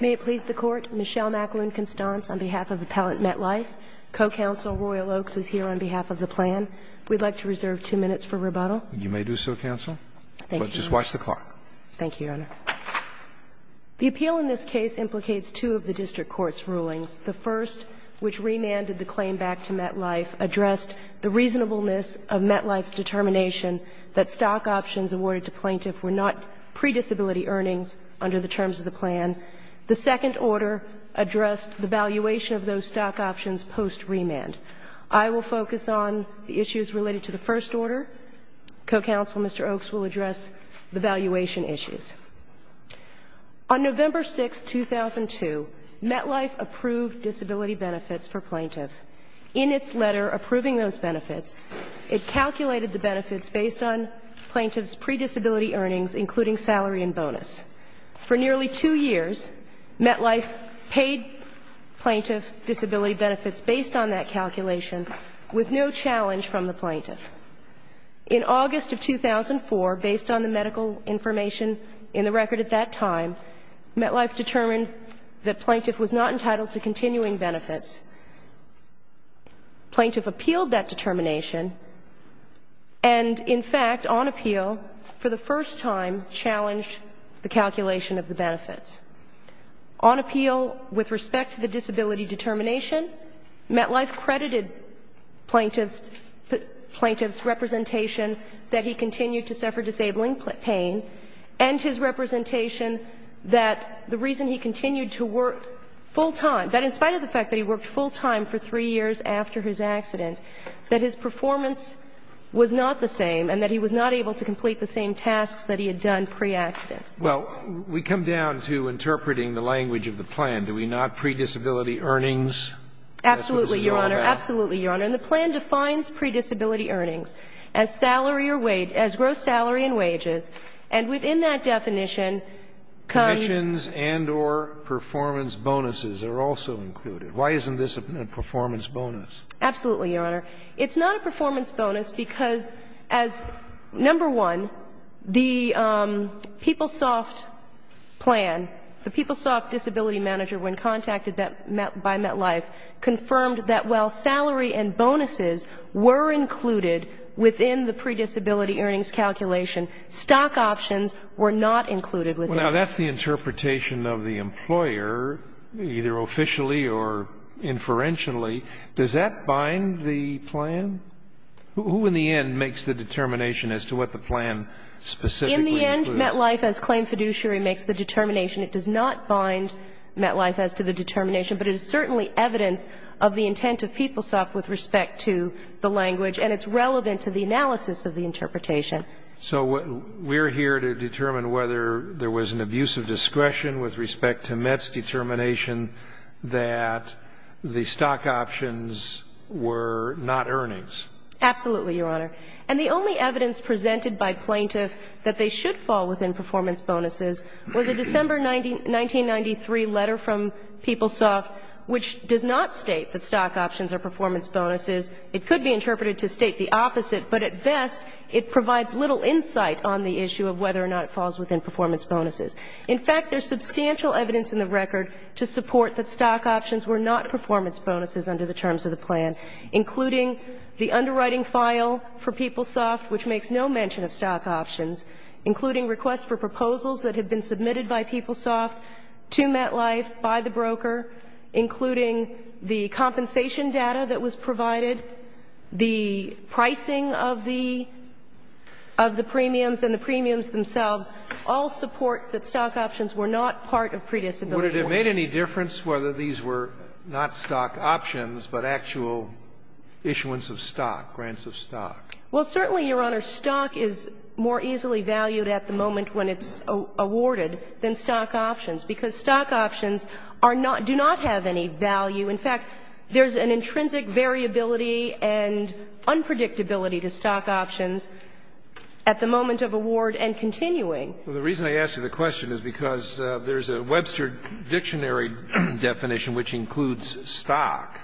May it please the Court, Michelle McAloon Constance on behalf of Appellant MetLife. Co-Counsel Royal Oaks is here on behalf of the plan. We'd like to reserve two minutes for rebuttal. You may do so, Counsel. Thank you. Just watch the clock. Thank you, Your Honor. The appeal in this case implicates two of the District Court's rulings. The first, which remanded the claim back to MetLife, addressed the reasonableness of MetLife's determination that stock options awarded to plaintiffs were not predisability earnings under the terms of the plan. The second order addressed the valuation of those stock options post-remand. I will focus on the issues related to the first order. Co-Counsel Mr. Oaks will address the valuation issues. On November 6, 2002, MetLife approved disability benefits for plaintiff. In its letter approving those benefits, it calculated the benefits based on plaintiff's predisability earnings, including salary and bonus. For nearly two years, MetLife paid plaintiff disability benefits based on that calculation with no challenge from the plaintiff. In August of 2004, based on the medical information in the record at that time, MetLife determined that plaintiff was not entitled to continuing benefits. Plaintiff appealed that determination and, in fact, on appeal, for the first time, challenged the calculation of the benefits. On appeal, with respect to the disability determination, MetLife credited plaintiff's representation that he continued to suffer disabling pain and his representation that the reason he continued to work full-time, that in spite of the fact that he worked full-time for three years after his accident, that his performance was not the same and that he was not able to complete the same tasks that he had done pre-accident. Well, we come down to interpreting the language of the plan. Do we not? Predisability earnings? Absolutely, Your Honor. Absolutely, Your Honor. And the plan defines predisability earnings as salary or wage, as gross salary and wages, and within that definition comes. Commissions and or performance bonuses are also included. Why isn't this a performance bonus? Absolutely, Your Honor. It's not a performance bonus because, as number one, the PeopleSoft plan, the PeopleSoft disability manager, when contacted by MetLife, confirmed that while salary and bonuses were included within the predisability earnings calculation, stock options were not included within it. Well, now, that's the interpretation of the employer, either officially or inferentially. Does that bind the plan? Who, in the end, makes the determination as to what the plan specifically includes? In the end, MetLife, as claimed fiduciary, makes the determination. It does not bind MetLife as to the determination, but it is certainly evidence of the intent of PeopleSoft with respect to the language, and it's relevant to the analysis of the interpretation. So we're here to determine whether there was an abuse of discretion with respect to Met's determination that the stock options were not earnings. Absolutely, Your Honor. And the only evidence presented by plaintiff that they should fall within performance bonuses was a December 1993 letter from PeopleSoft which does not state that stock options are performance bonuses. It could be interpreted to state the opposite, but at best, it provides little insight on the issue of whether or not it falls within performance bonuses. In fact, there's substantial evidence in the record to support that stock options were not performance bonuses under the terms of the plan, including the underwriting file for PeopleSoft which makes no mention of stock options, including requests for proposals that had been submitted by PeopleSoft to MetLife by the broker, including the compensation data that was provided, the pricing of the premiums and the premiums themselves all support that stock options were not part of predisability. Would it have made any difference whether these were not stock options, but actual issuance of stock, grants of stock? Well, certainly, Your Honor, stock is more easily valued at the moment when it's value. In fact, there's an intrinsic variability and unpredictability to stock options at the moment of award and continuing. Well, the reason I ask you the question is because there's a Webster dictionary definition which includes stock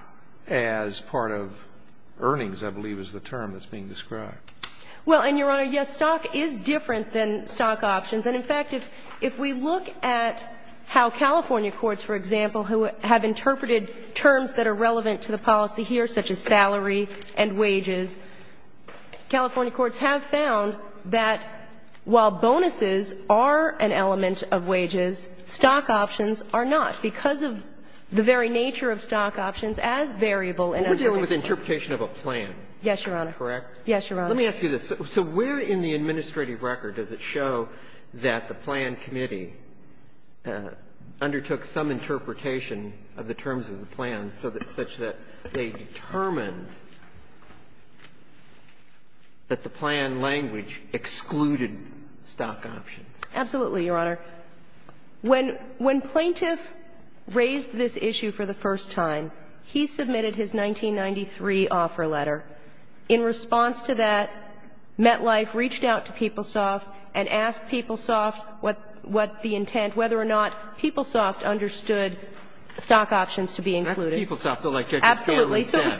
as part of earnings, I believe is the term that's being described. Well, and, Your Honor, yes, stock is different than stock options. And in fact, if we look at how California courts, for example, who have interpreted terms that are relevant to the policy here, such as salary and wages, California courts have found that while bonuses are an element of wages, stock options are not. Because of the very nature of stock options as variable and unpredictable. But we're dealing with interpretation of a plan. Yes, Your Honor. Let me ask you this. So where in the administrative record does it show that the plan committee undertook some interpretation of the terms of the plan such that they determined that the plan language excluded stock options? Absolutely, Your Honor. When plaintiff raised this issue for the first time, he submitted his 1993 offer letter. In response to that, MetLife reached out to PeopleSoft and asked PeopleSoft what the intent, whether or not PeopleSoft understood stock options to be included. That's PeopleSoft. Absolutely. So it was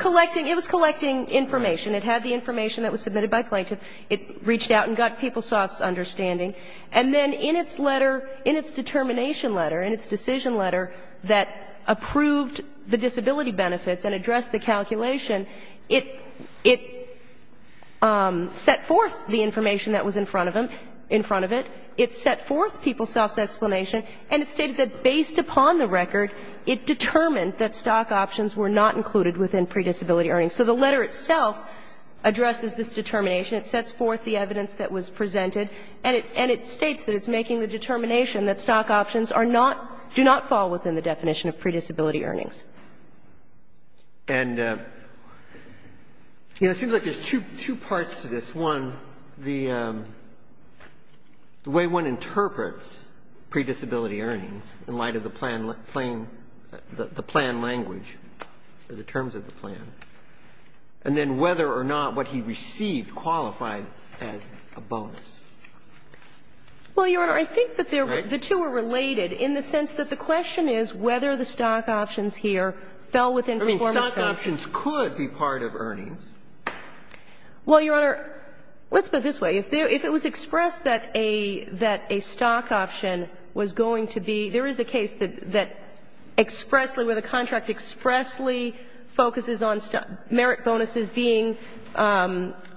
collecting information. It had the information that was submitted by plaintiff. It reached out and got PeopleSoft's understanding. And then in its letter, in its determination letter, in its decision letter that approved the disability benefits and addressed the calculation, it set forth the information that was in front of him, in front of it. It set forth PeopleSoft's explanation. And it stated that based upon the record, it determined that stock options were not included within predisability earnings. So the letter itself addresses this determination. It sets forth the evidence that was presented. And it states that it's making the determination that stock options are not, do not fall within the definition of predisability earnings. And, you know, it seems like there's two parts to this. One, the way one interprets predisability earnings in light of the plan language or the terms of the plan, and then whether or not what he received qualified as a bonus. Well, Your Honor, I think that the two are related in the sense that the question is whether the stock options here fell within performance terms. I mean, stock options could be part of earnings. Well, Your Honor, let's put it this way. If it was expressed that a stock option was going to be – there is a case that expressly – where the contract expressly focuses on merit bonuses being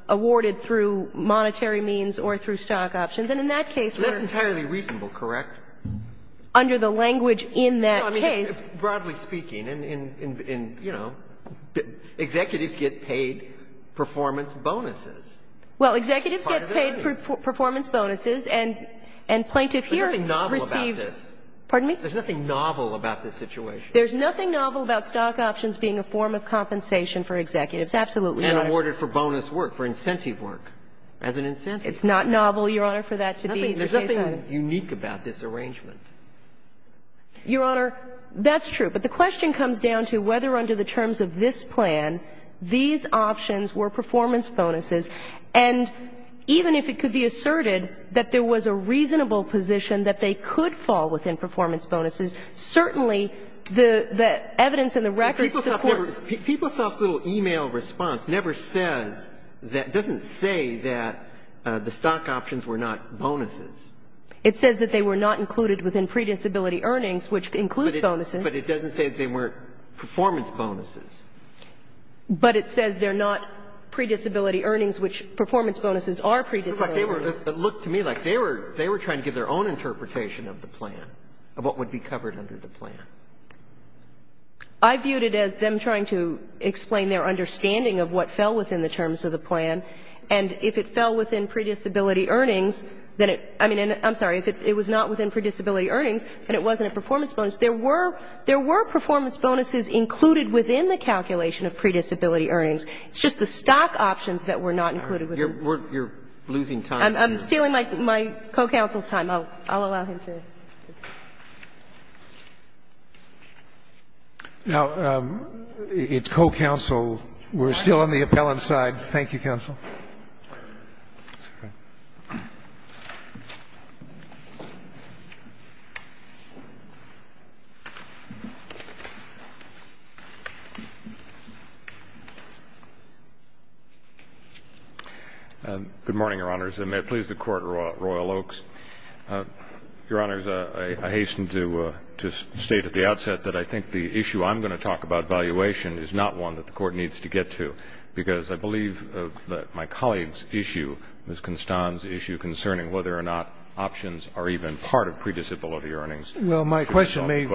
awarded through monetary means or through stock options. And in that case, we are – That's entirely reasonable, correct? Under the language in that case – No, I mean, broadly speaking, and, you know, executives get paid performance bonuses as part of their earnings. Well, executives get paid performance bonuses, and plaintiff here received – There's nothing novel about this. Pardon me? There's nothing novel about this situation. There's nothing novel about stock options being a form of compensation for executives. Absolutely, Your Honor. And awarded for bonus work, for incentive work, as an incentive. It's not novel, Your Honor, for that to be the case. There's nothing unique about this arrangement. Your Honor, that's true. But the question comes down to whether, under the terms of this plan, these options were performance bonuses. And even if it could be asserted that there was a reasonable position that they could fall within performance bonuses, certainly the evidence in the record supports – PeopleSoft's little e-mail response never says that – doesn't say that the stock options were not bonuses. It says that they were not included within predisability earnings, which includes bonuses. But it doesn't say that they weren't performance bonuses. But it says they're not predisability earnings, which performance bonuses are predisability earnings. It looks to me like they were trying to give their own interpretation of the plan, of what would be covered under the plan. I viewed it as them trying to explain their understanding of what fell within the predisability earnings. I mean, I'm sorry. If it was not within predisability earnings and it wasn't a performance bonus, there were performance bonuses included within the calculation of predisability earnings. It's just the stock options that were not included. You're losing time. I'm stealing my co-counsel's time. I'll allow him to. Now, it's co-counsel. We're still on the appellant side. Thank you, counsel. Good morning, Your Honors. And may it please the Court, Royal Oaks. Your Honors, I hastened to state at the outset that I think the issue I'm going to talk about, valuation, is not one that the Court needs to get to. Because I believe that my colleague's issue, Ms. Constan's issue concerning whether or not options are even part of predisability earnings. Well, my question may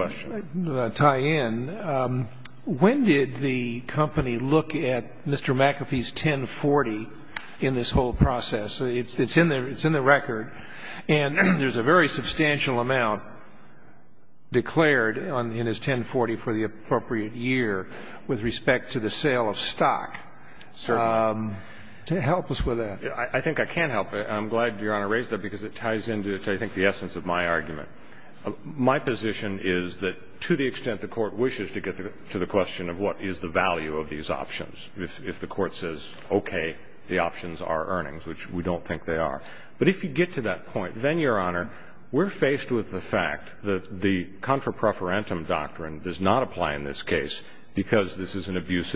tie in. When did the company look at Mr. McAfee's 1040 in this whole process? It's in the record. And there's a very substantial amount declared in his 1040 for the appropriate year with respect to the sale of stock. Certainly. Help us with that. I think I can help. I'm glad Your Honor raised that, because it ties into, I think, the essence of my argument. My position is that to the extent the Court wishes to get to the question of what is the value of these options, if the Court says, okay, the options are earnings, which we don't think they are. But if you get to that point, then, Your Honor, we're faced with the fact that the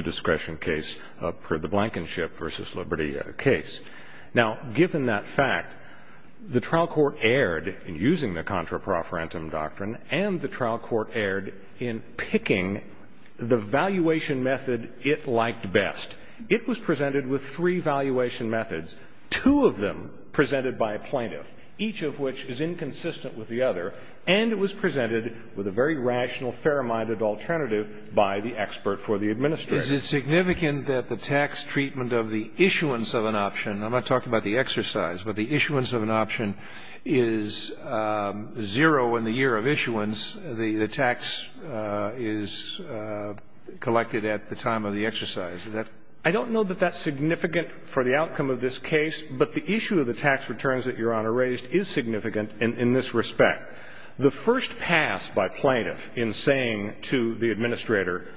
discretion case for the Blankenship v. Liberty case. Now, given that fact, the trial court erred in using the contra profferentum doctrine, and the trial court erred in picking the valuation method it liked best. It was presented with three valuation methods, two of them presented by a plaintiff, each of which is inconsistent with the other. And it was presented with a very rational, fair-minded alternative by the expert for the administrator. Is it significant that the tax treatment of the issuance of an option, I'm not talking about the exercise, but the issuance of an option is zero in the year of issuance. The tax is collected at the time of the exercise. I don't know that that's significant for the outcome of this case, but the issue of the tax returns that Your Honor raised is significant in this respect. The first pass by plaintiff in saying to the administrator,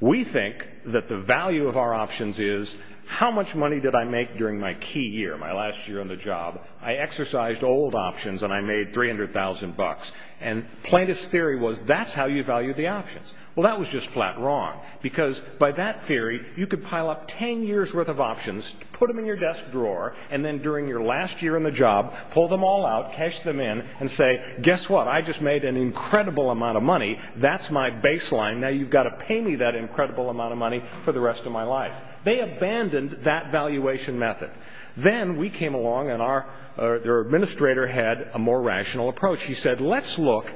we think that the value of our options is how much money did I make during my key year, my last year on the job. I exercised old options, and I made $300,000. And plaintiff's theory was that's how you value the options. Well, that was just flat wrong, because by that theory, you could pile up 10 years' worth of options, put them in your desk drawer, and then during your last year on the job, pull them all out, cash them in, and say, guess what? I just made an incredible amount of money. That's my baseline. Now you've got to pay me that incredible amount of money for the rest of my life. They abandoned that valuation method. Then we came along, and our administrator had a more rational approach. He said, let's look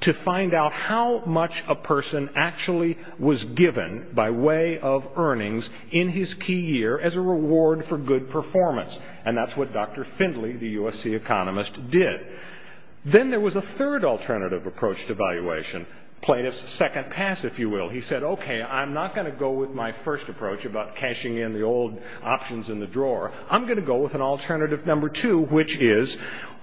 to find out how much a person actually was given by way of earnings in his key year as a reward for good performance. And that's what Dr. Findley, the USC economist, did. Then there was a third alternative approach to valuation. Plaintiff's second pass, if you will. He said, okay, I'm not going to go with my first approach about cashing in the old options in the drawer. I'm going to go with an alternative number two, which is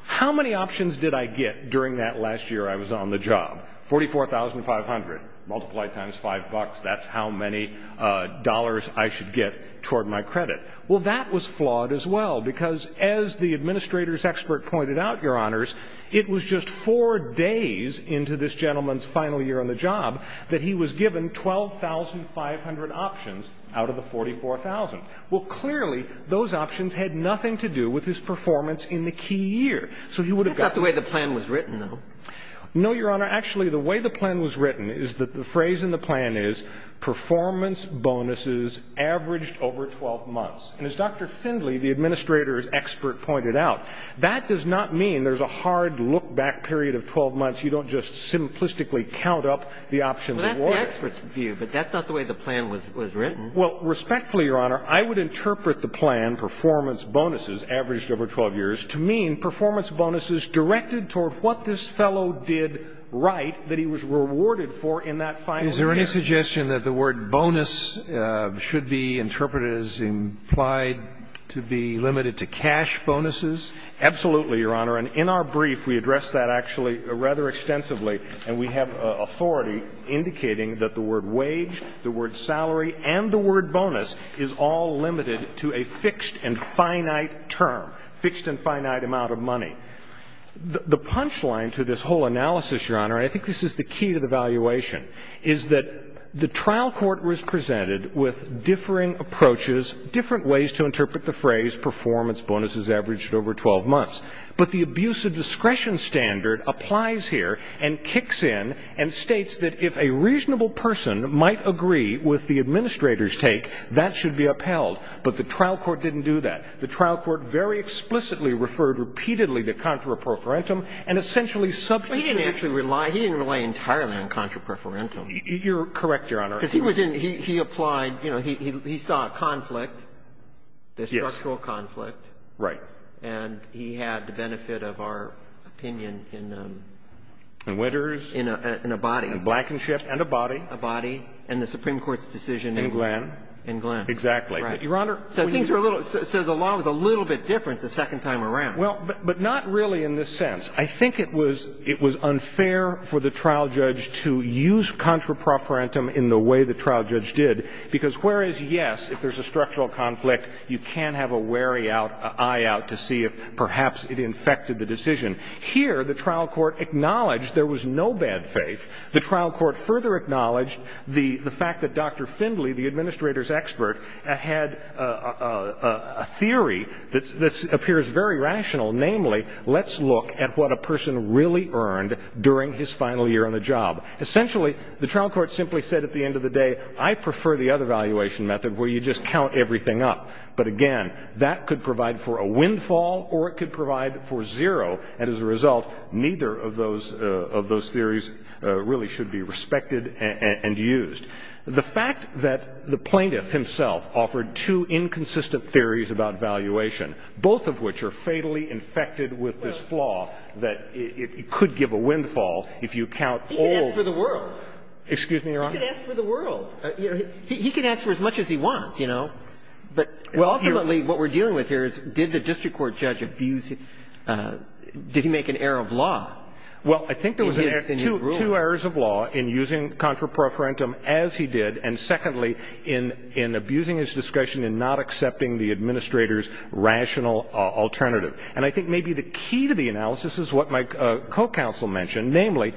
how many options did I get during that last year I was on the job? $44,500. Multiply it times five bucks. That's how many dollars I should get toward my credit. Well, that was flawed as well, because as the administrator's expert pointed out, Your Honors, it was just four days into this gentleman's final year on the job that he was given 12,500 options out of the 44,000. Well, clearly, those options had nothing to do with his performance in the key year. So he would have gotten. That's not the way the plan was written, though. No, Your Honor. Actually, the way the plan was written is that the phrase in the plan is performance bonuses averaged over 12 months. And as Dr. Findley, the administrator's expert, pointed out, that does not mean there's a hard look back period of 12 months. You don't just simplistically count up the options. Well, that's the expert's view, but that's not the way the plan was written. Well, respectfully, Your Honor, I would interpret the plan performance bonuses averaged over 12 years to mean performance bonuses directed toward what this fellow did right that he was rewarded for in that final year. Is there any suggestion that the word bonus should be interpreted as implied to be limited to cash bonuses? Absolutely, Your Honor. And in our brief, we address that actually rather extensively, and we have authority indicating that the word wage, the word salary, and the word bonus is all limited to a fixed and finite term, fixed and finite amount of money. The punch line to this whole analysis, Your Honor, and I think this is the key to the valuation, is that the trial court was presented with differing approaches, different ways to interpret the phrase performance bonuses averaged over 12 months. But the abuse of discretion standard applies here and kicks in and states that if a reasonable person might agree with the administrator's take, that should be upheld. But the trial court didn't do that. The trial court very explicitly referred repeatedly to contra pro forensum and essentially substituted the word. He didn't actually rely. He didn't rely entirely on contra pro forensum. You're correct, Your Honor. Because he was in he applied, you know, he saw a conflict, a structural conflict. Yes. Right. And he had the benefit of our opinion in. In Witters. In a body. In Blankenship and a body. A body. And the Supreme Court's decision. In Glenn. In Glenn. Exactly. Your Honor. So things were a little. So the law was a little bit different the second time around. Well, but not really in this sense. I think it was unfair for the trial judge to use contra pro forensum in the way the trial judge did. Because whereas, yes, if there's a structural conflict, you can have a wary eye out to see if perhaps it infected the decision. Here the trial court acknowledged there was no bad faith. The trial court further acknowledged the fact that Dr. Findley, the administrator's expert, had a theory that appears very rational. Namely, let's look at what a person really earned during his final year on the job. Essentially, the trial court simply said at the end of the day, I prefer the other valuation method where you just count everything up. But, again, that could provide for a windfall or it could provide for zero. And as a result, neither of those theories really should be respected and used. The fact that the plaintiff himself offered two inconsistent theories about valuation, both of which are fatally infected with this flaw, that it could give a windfall if you count all. He could ask for the world. Excuse me, Your Honor. He could ask for the world. He could ask for as much as he wants, you know. Well, ultimately, what we're dealing with here is did the district court judge abuse him? Did he make an error of law? Well, I think there was two errors of law in using contraprofarentum, as he did, and, secondly, in abusing his discretion in not accepting the administrator's rational alternative. And I think maybe the key to the analysis is what my co-counsel mentioned, namely,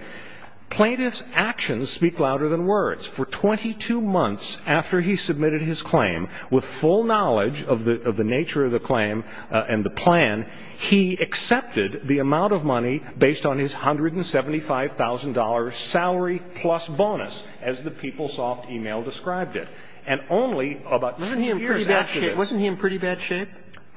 plaintiff's actions speak louder than words. For 22 months after he submitted his claim, with full knowledge of the nature of the claim and the plan, he accepted the amount of money based on his $175,000 salary plus bonus, as the PeopleSoft e-mail described it. And only about two years after this. Wasn't he in pretty bad shape?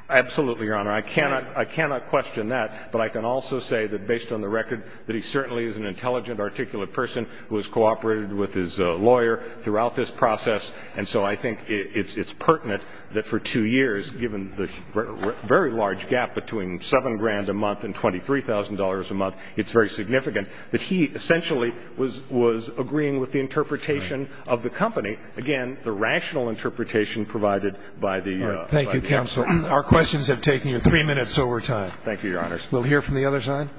Absolutely, Your Honor. I cannot question that. But I can also say that, based on the record, that he certainly is an intelligent, articulate person who has cooperated with his lawyer throughout this process. And so I think it's pertinent that for two years, given the very large gap between $7,000 a month and $23,000 a month, it's very significant that he essentially was agreeing with the interpretation of the company. Again, the rational interpretation provided by the counsel. Thank you, counsel. Our questions have taken you three minutes over time. Thank you, Your Honor. We'll hear from the other side.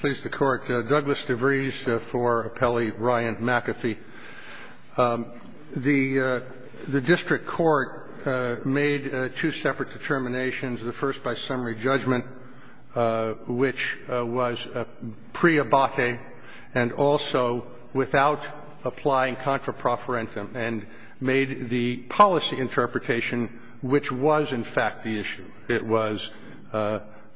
Please, the Court. Douglas DeVries for Appellee Ryan McAfee. The district court made two separate determinations, the first by summary judgment, which was preabate and also without applying contra profferentum, and made the policy interpretation, which was in fact the issue. It was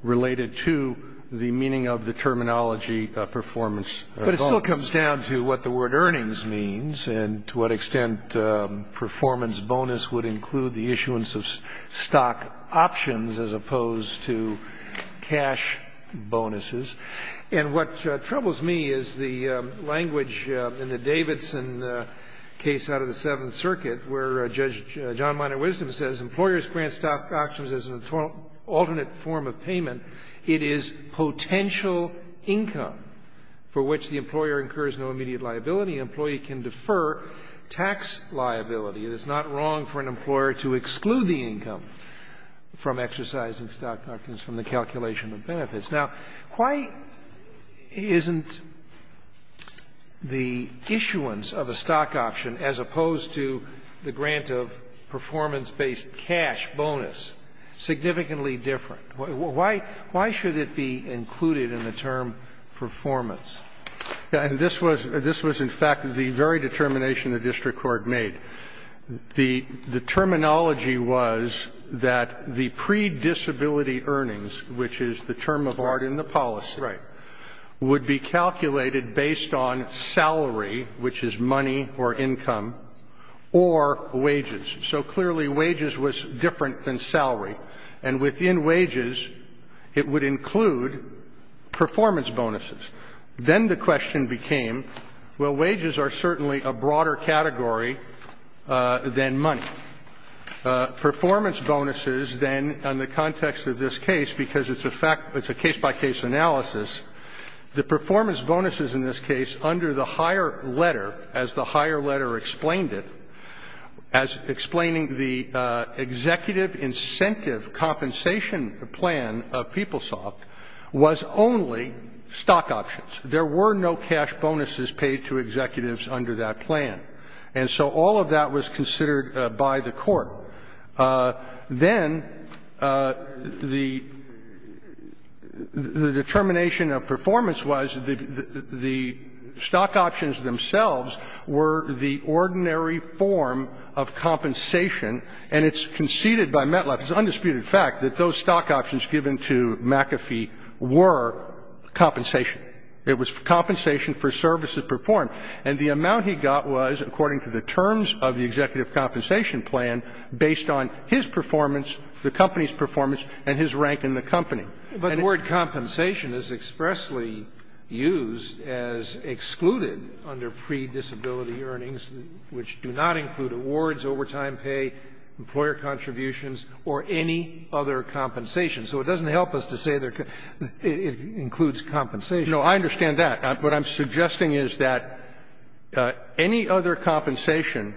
related to the meaning of the terminology performance bonus. But it still comes down to what the word earnings means and to what extent performance bonus would include the issuance of stock options as opposed to cash bonuses. And what troubles me is the language in the Davidson case out of the Seventh Circuit where Judge John Minor Wisdom says employers grant stock options as an alternate form of payment, it is potential income for which the employer incurs no immediate liability. Only an employee can defer tax liability. It is not wrong for an employer to exclude the income from exercising stock options from the calculation of benefits. Now, why isn't the issuance of a stock option as opposed to the grant of performance-based cash bonus significantly different? Why should it be included in the term performance? And this was in fact the very determination the district court made. The terminology was that the predisability earnings, which is the term of art in the policy, would be calculated based on salary, which is money or income, or wages. So clearly wages was different than salary. And within wages, it would include performance bonuses. Then the question became, well, wages are certainly a broader category than money. Performance bonuses then in the context of this case, because it's a case-by-case analysis, the performance bonuses in this case under the higher letter, as the higher letter explained it, as explaining the executive incentive compensation plan of PeopleSoft was only stock options. There were no cash bonuses paid to executives under that plan. And so all of that was considered by the court. Then the determination of performance was that the stock options themselves were the ordinary form of compensation, and it's conceded by Metliff, it's an undisputed fact, that those stock options given to McAfee were compensation. It was compensation for services performed. And the amount he got was, according to the terms of the executive compensation plan, based on his performance, the company's performance, and his rank in the company. And the word compensation is expressly used as excluded under predisability earnings, which do not include awards, overtime pay, employer contributions, or any other compensation. So it doesn't help us to say it includes compensation. You know, I understand that. What I'm suggesting is that any other compensation,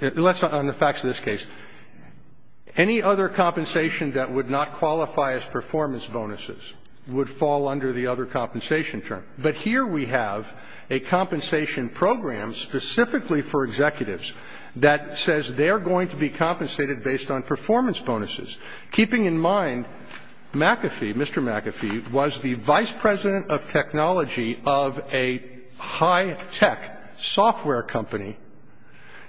unless on the facts of this case, any other compensation that would not qualify as performance bonuses would fall under the other compensation term. But here we have a compensation program specifically for executives that says they're going to be compensated based on performance bonuses, keeping in mind McAfee, Mr. McAfee, was the vice president of technology of a high-tech software company.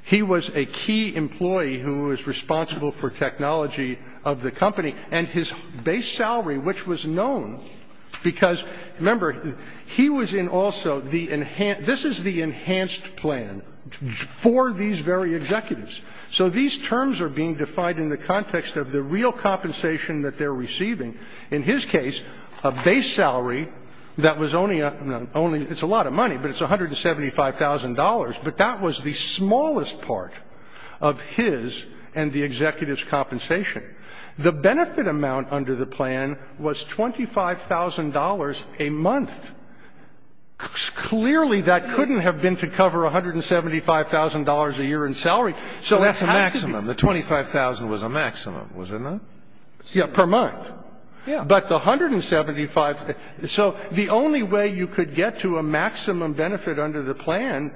He was a key employee who was responsible for technology of the company. And his base salary, which was known because, remember, he was in also the enhanced this is the enhanced plan for these very executives. So these terms are being defined in the context of the real compensation that they're receiving. In his case, a base salary that was only a, it's a lot of money, but it's $175,000. But that was the smallest part of his and the executive's compensation. The benefit amount under the plan was $25,000 a month. Clearly, that couldn't have been to cover $175,000 a year in salary. So that's a maximum. The $25,000 was a maximum, was it not? Yeah, per month. But the $175,000, so the only way you could get to a maximum benefit under the plan,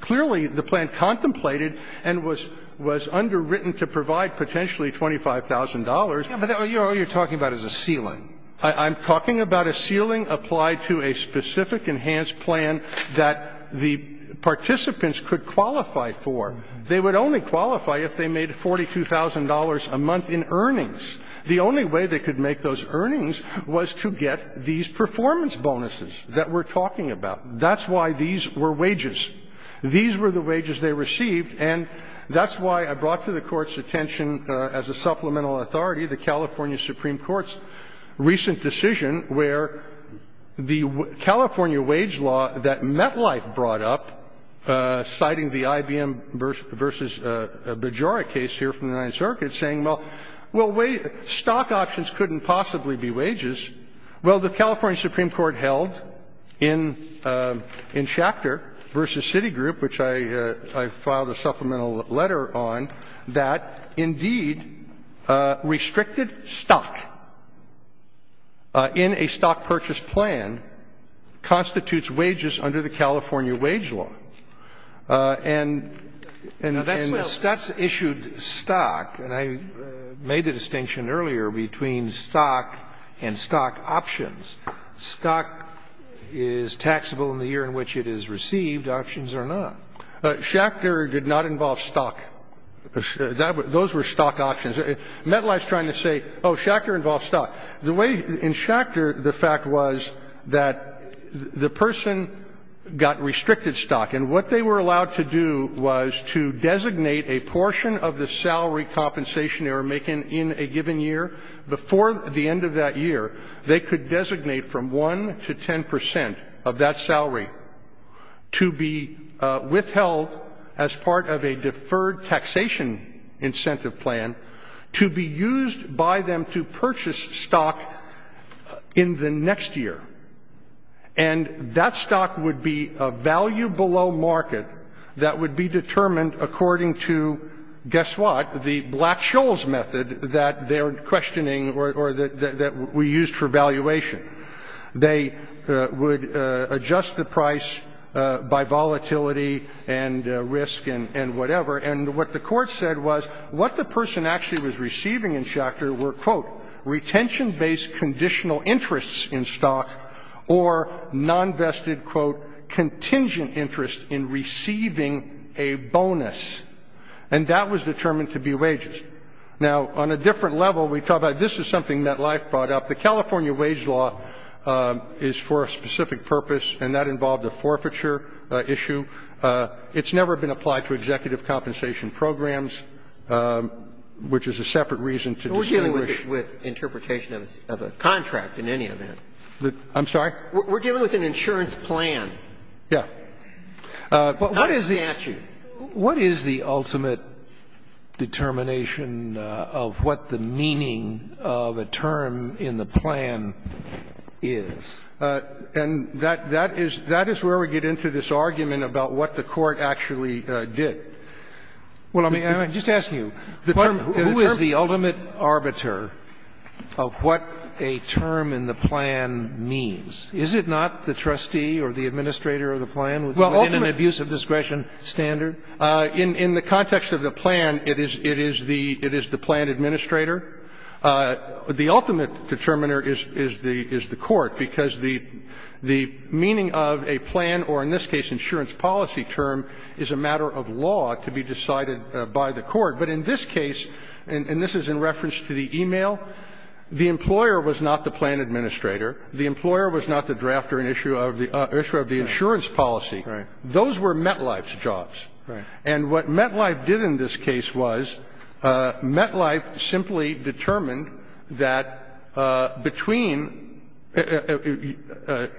clearly the plan contemplated and was underwritten to provide potentially $25,000. But all you're talking about is a ceiling. I'm talking about a ceiling applied to a specific enhanced plan that the participants could qualify for. They would only qualify if they made $42,000 a month in earnings. The only way they could make those earnings was to get these performance bonuses that we're talking about. That's why these were wages. These were the wages they received. And that's why I brought to the Court's attention as a supplemental authority the California Supreme Court's recent decision where the California wage law that MetLife brought up, citing the IBM v. Bagiore case here from the Ninth Circuit, Well, the California Supreme Court held in Schachter v. Citigroup, which I filed a supplemental letter on, that, indeed, restricted stock in a stock purchase plan constitutes wages under the California wage law. And Stutz issued stock, and I made the distinction earlier between stock and stock options. Stock is taxable in the year in which it is received. Options are not. Schachter did not involve stock. Those were stock options. MetLife's trying to say, oh, Schachter involved stock. The way in Schachter the fact was that the person got restricted stock, and what they were allowed to do was to designate a portion of the salary compensation they were making in a given year. Before the end of that year, they could designate from 1 to 10 percent of that salary to be withheld as part of a deferred taxation incentive plan to be used by them to purchase stock in the next year. And that stock would be a value below market that would be determined according to, guess what, the Black-Scholes method that they're questioning or that we used for valuation. They would adjust the price by volatility and risk and whatever. And what the Court said was what the person actually was receiving in Schachter were, quote, retention-based conditional interests in stock or nonvested, quote, and that was determined to be wages. Now, on a different level, we talk about this is something that MetLife brought up. The California wage law is for a specific purpose, and that involved a forfeiture issue. It's never been applied to executive compensation programs, which is a separate reason to distinguish. We're dealing with interpretation of a contract in any event. We're dealing with an insurance plan. Yeah. Not a statute. Scalia. What is the ultimate determination of what the meaning of a term in the plan is? And that is where we get into this argument about what the Court actually did. Well, I'm just asking you, who is the ultimate arbiter of what a term in the plan means? Is it not the trustee or the administrator of the plan? In an abuse of discretion standard? In the context of the plan, it is the plan administrator. The ultimate determiner is the Court, because the meaning of a plan, or in this case insurance policy term, is a matter of law to be decided by the Court. But in this case, and this is in reference to the e-mail, the employer was not the plan administrator. The employer was not the drafter and issuer of the insurance policy. Those were Metlife's jobs. And what Metlife did in this case was, Metlife simply determined that between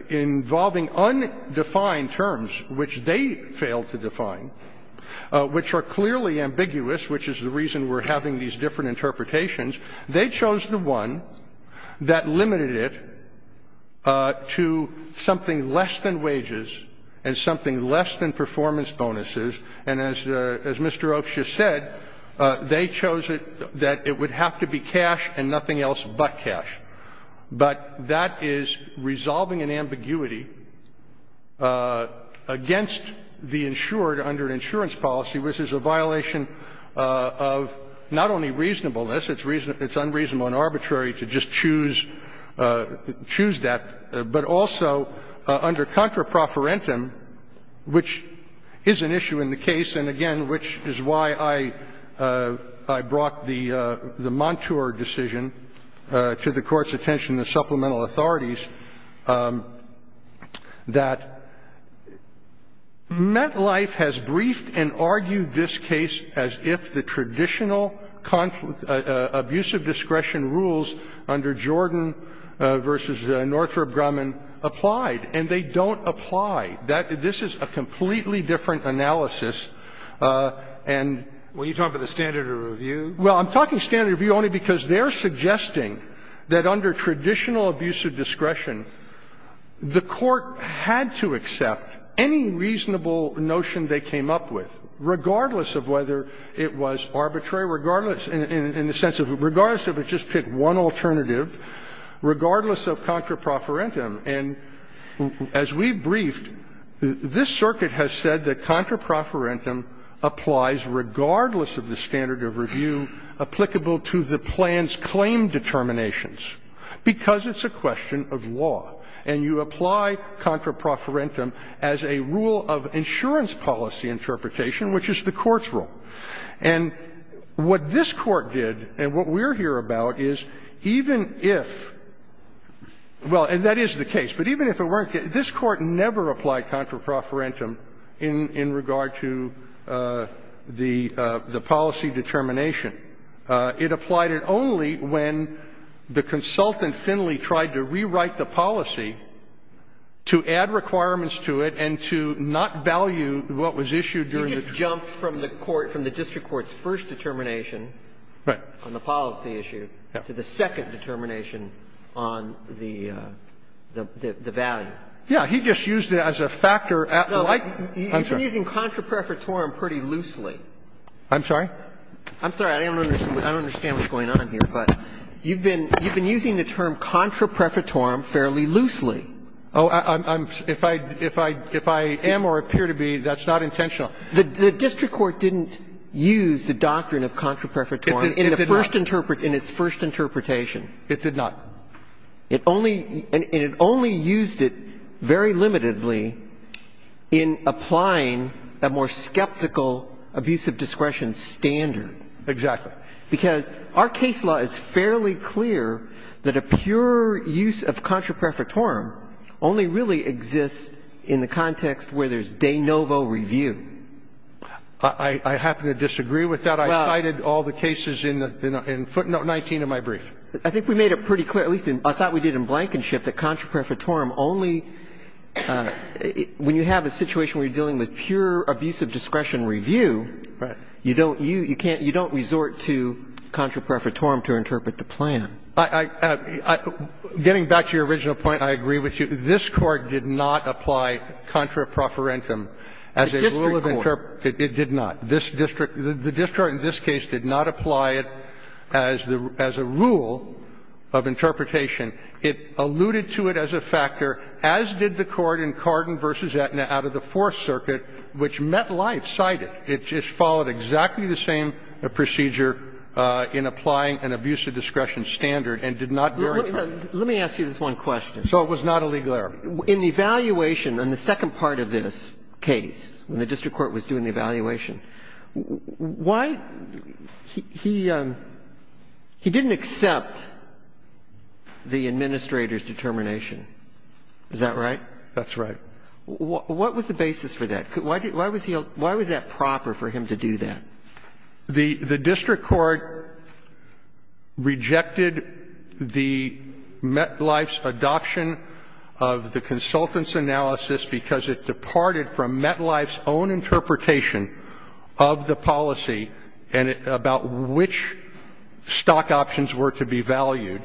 involving undefined terms, which they failed to define, which are clearly ambiguous, which is the reason we're having these different interpretations, they chose the one that limited it to something less than wages and something less than performance bonuses. And as Mr. Okshia said, they chose it that it would have to be cash and nothing else but cash. But that is resolving an ambiguity against the insured under insurance policy, which is a violation of not only reasonableness, it's unreasonable and arbitrary to just choose that, but also under contra proferentum, which is an issue in the case and, again, which is why I brought the Montour decision to the Court's attention in the supplemental authorities, that Metlife has briefed and argued this case as if the traditional abuse of discretion rules under Jordan v. Northrop Grumman applied, and they don't apply. That this is a completely different analysis, and we're talking about the standard of review. Well, I'm talking standard of review only because they're suggesting that under traditional abuse of discretion, the Court had to accept any reasonable notion that they came up with, regardless of whether it was arbitrary, regardless in the sense of regardless if it just picked one alternative, regardless of contra proferentum. And as we briefed, this circuit has said that contra proferentum applies regardless of the standard of review applicable to the plan's claim determinations, because it's a question of law. And you apply contra proferentum as a rule of insurance policy interpretation, which is the Court's rule. And what this Court did, and what we're here about, is even if, well, and that is the case, but even if it weren't, this Court never applied contra proferentum in regard to the policy determination. It applied it only when the consultant thinly tried to rewrite the policy, and the consultant tried to rewrite the policy, to add requirements to it and to not value what was issued during the term. He just jumped from the court, from the district court's first determination on the policy issue to the second determination on the value. Yeah. He just used it as a factor at like, I'm sorry. You've been using contra proferentum pretty loosely. I'm sorry? I'm sorry. I don't understand what's going on here. But you've been using the term contra proferentum fairly loosely. Oh, if I am or appear to be, that's not intentional. The district court didn't use the doctrine of contra proferentum in its first interpretation. It did not. And it only used it very limitedly in applying a more skeptical abuse of discretion standard. Exactly. Because our case law is fairly clear that a pure use of contra proferentum only really exists in the context where there's de novo review. I happen to disagree with that. I cited all the cases in footnote 19 of my brief. I think we made it pretty clear, at least I thought we did in Blankenship, that contra proferentum only, when you have a situation where you're dealing with pure abuse of discretion review, you don't use, you can't, you don't resort to contra proferentum to interpret the plan. I, getting back to your original point, I agree with you. This Court did not apply contra proferentum as a rule of interpretation. It did not. This district, the district in this case did not apply it as a rule of interpretation. It alluded to it as a factor, as did the Court in Carden v. Aetna out of the Fourth Circuit, which met life, cited. It just followed exactly the same procedure in applying an abuse of discretion standard, and did not go into it. Let me ask you this one question. So it was not a legal error. In the evaluation, in the second part of this case, when the district court was doing the evaluation, why, he, he didn't accept the administrator's determination. Is that right? That's right. What was the basis for that? Why was he, why was that proper for him to do that? The district court rejected the met life's adoption of the consultant's analysis because it departed from met life's own interpretation of the policy and about which stock options were to be valued.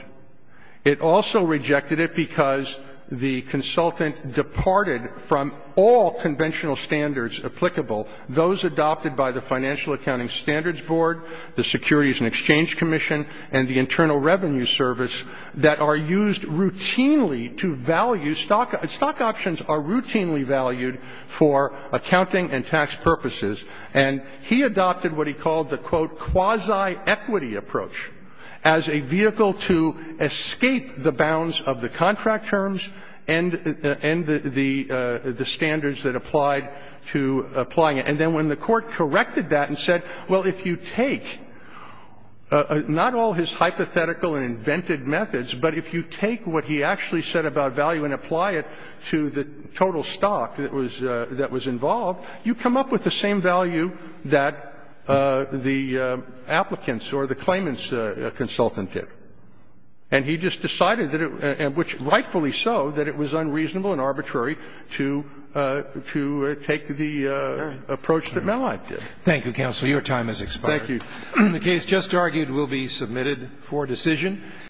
It also rejected it because the consultant departed from all conventional standards applicable, those adopted by the Financial Accounting Standards Board, the Securities and Exchange Commission, and the Internal Revenue Service that are used routinely to value stock, stock options are routinely valued for accounting and tax purposes, and he adopted what he called the, quote, quasi equity approach as a vehicle to escape the bounds of the contract terms and, and the, the, the standards that applied to applying it. And then when the court corrected that and said, well, if you take not all his hypothetical and invented methods, but if you take what he actually said about value and apply it to the total stock that was, that was involved, you come up with the same value that the applicants or the claimants' consultant did. And he just decided that it, and which rightfully so, that it was unreasonable and arbitrary to, to take the approach that met life did. Thank you, counsel. Your time has expired. Thank you. The case just argued will be submitted for decision.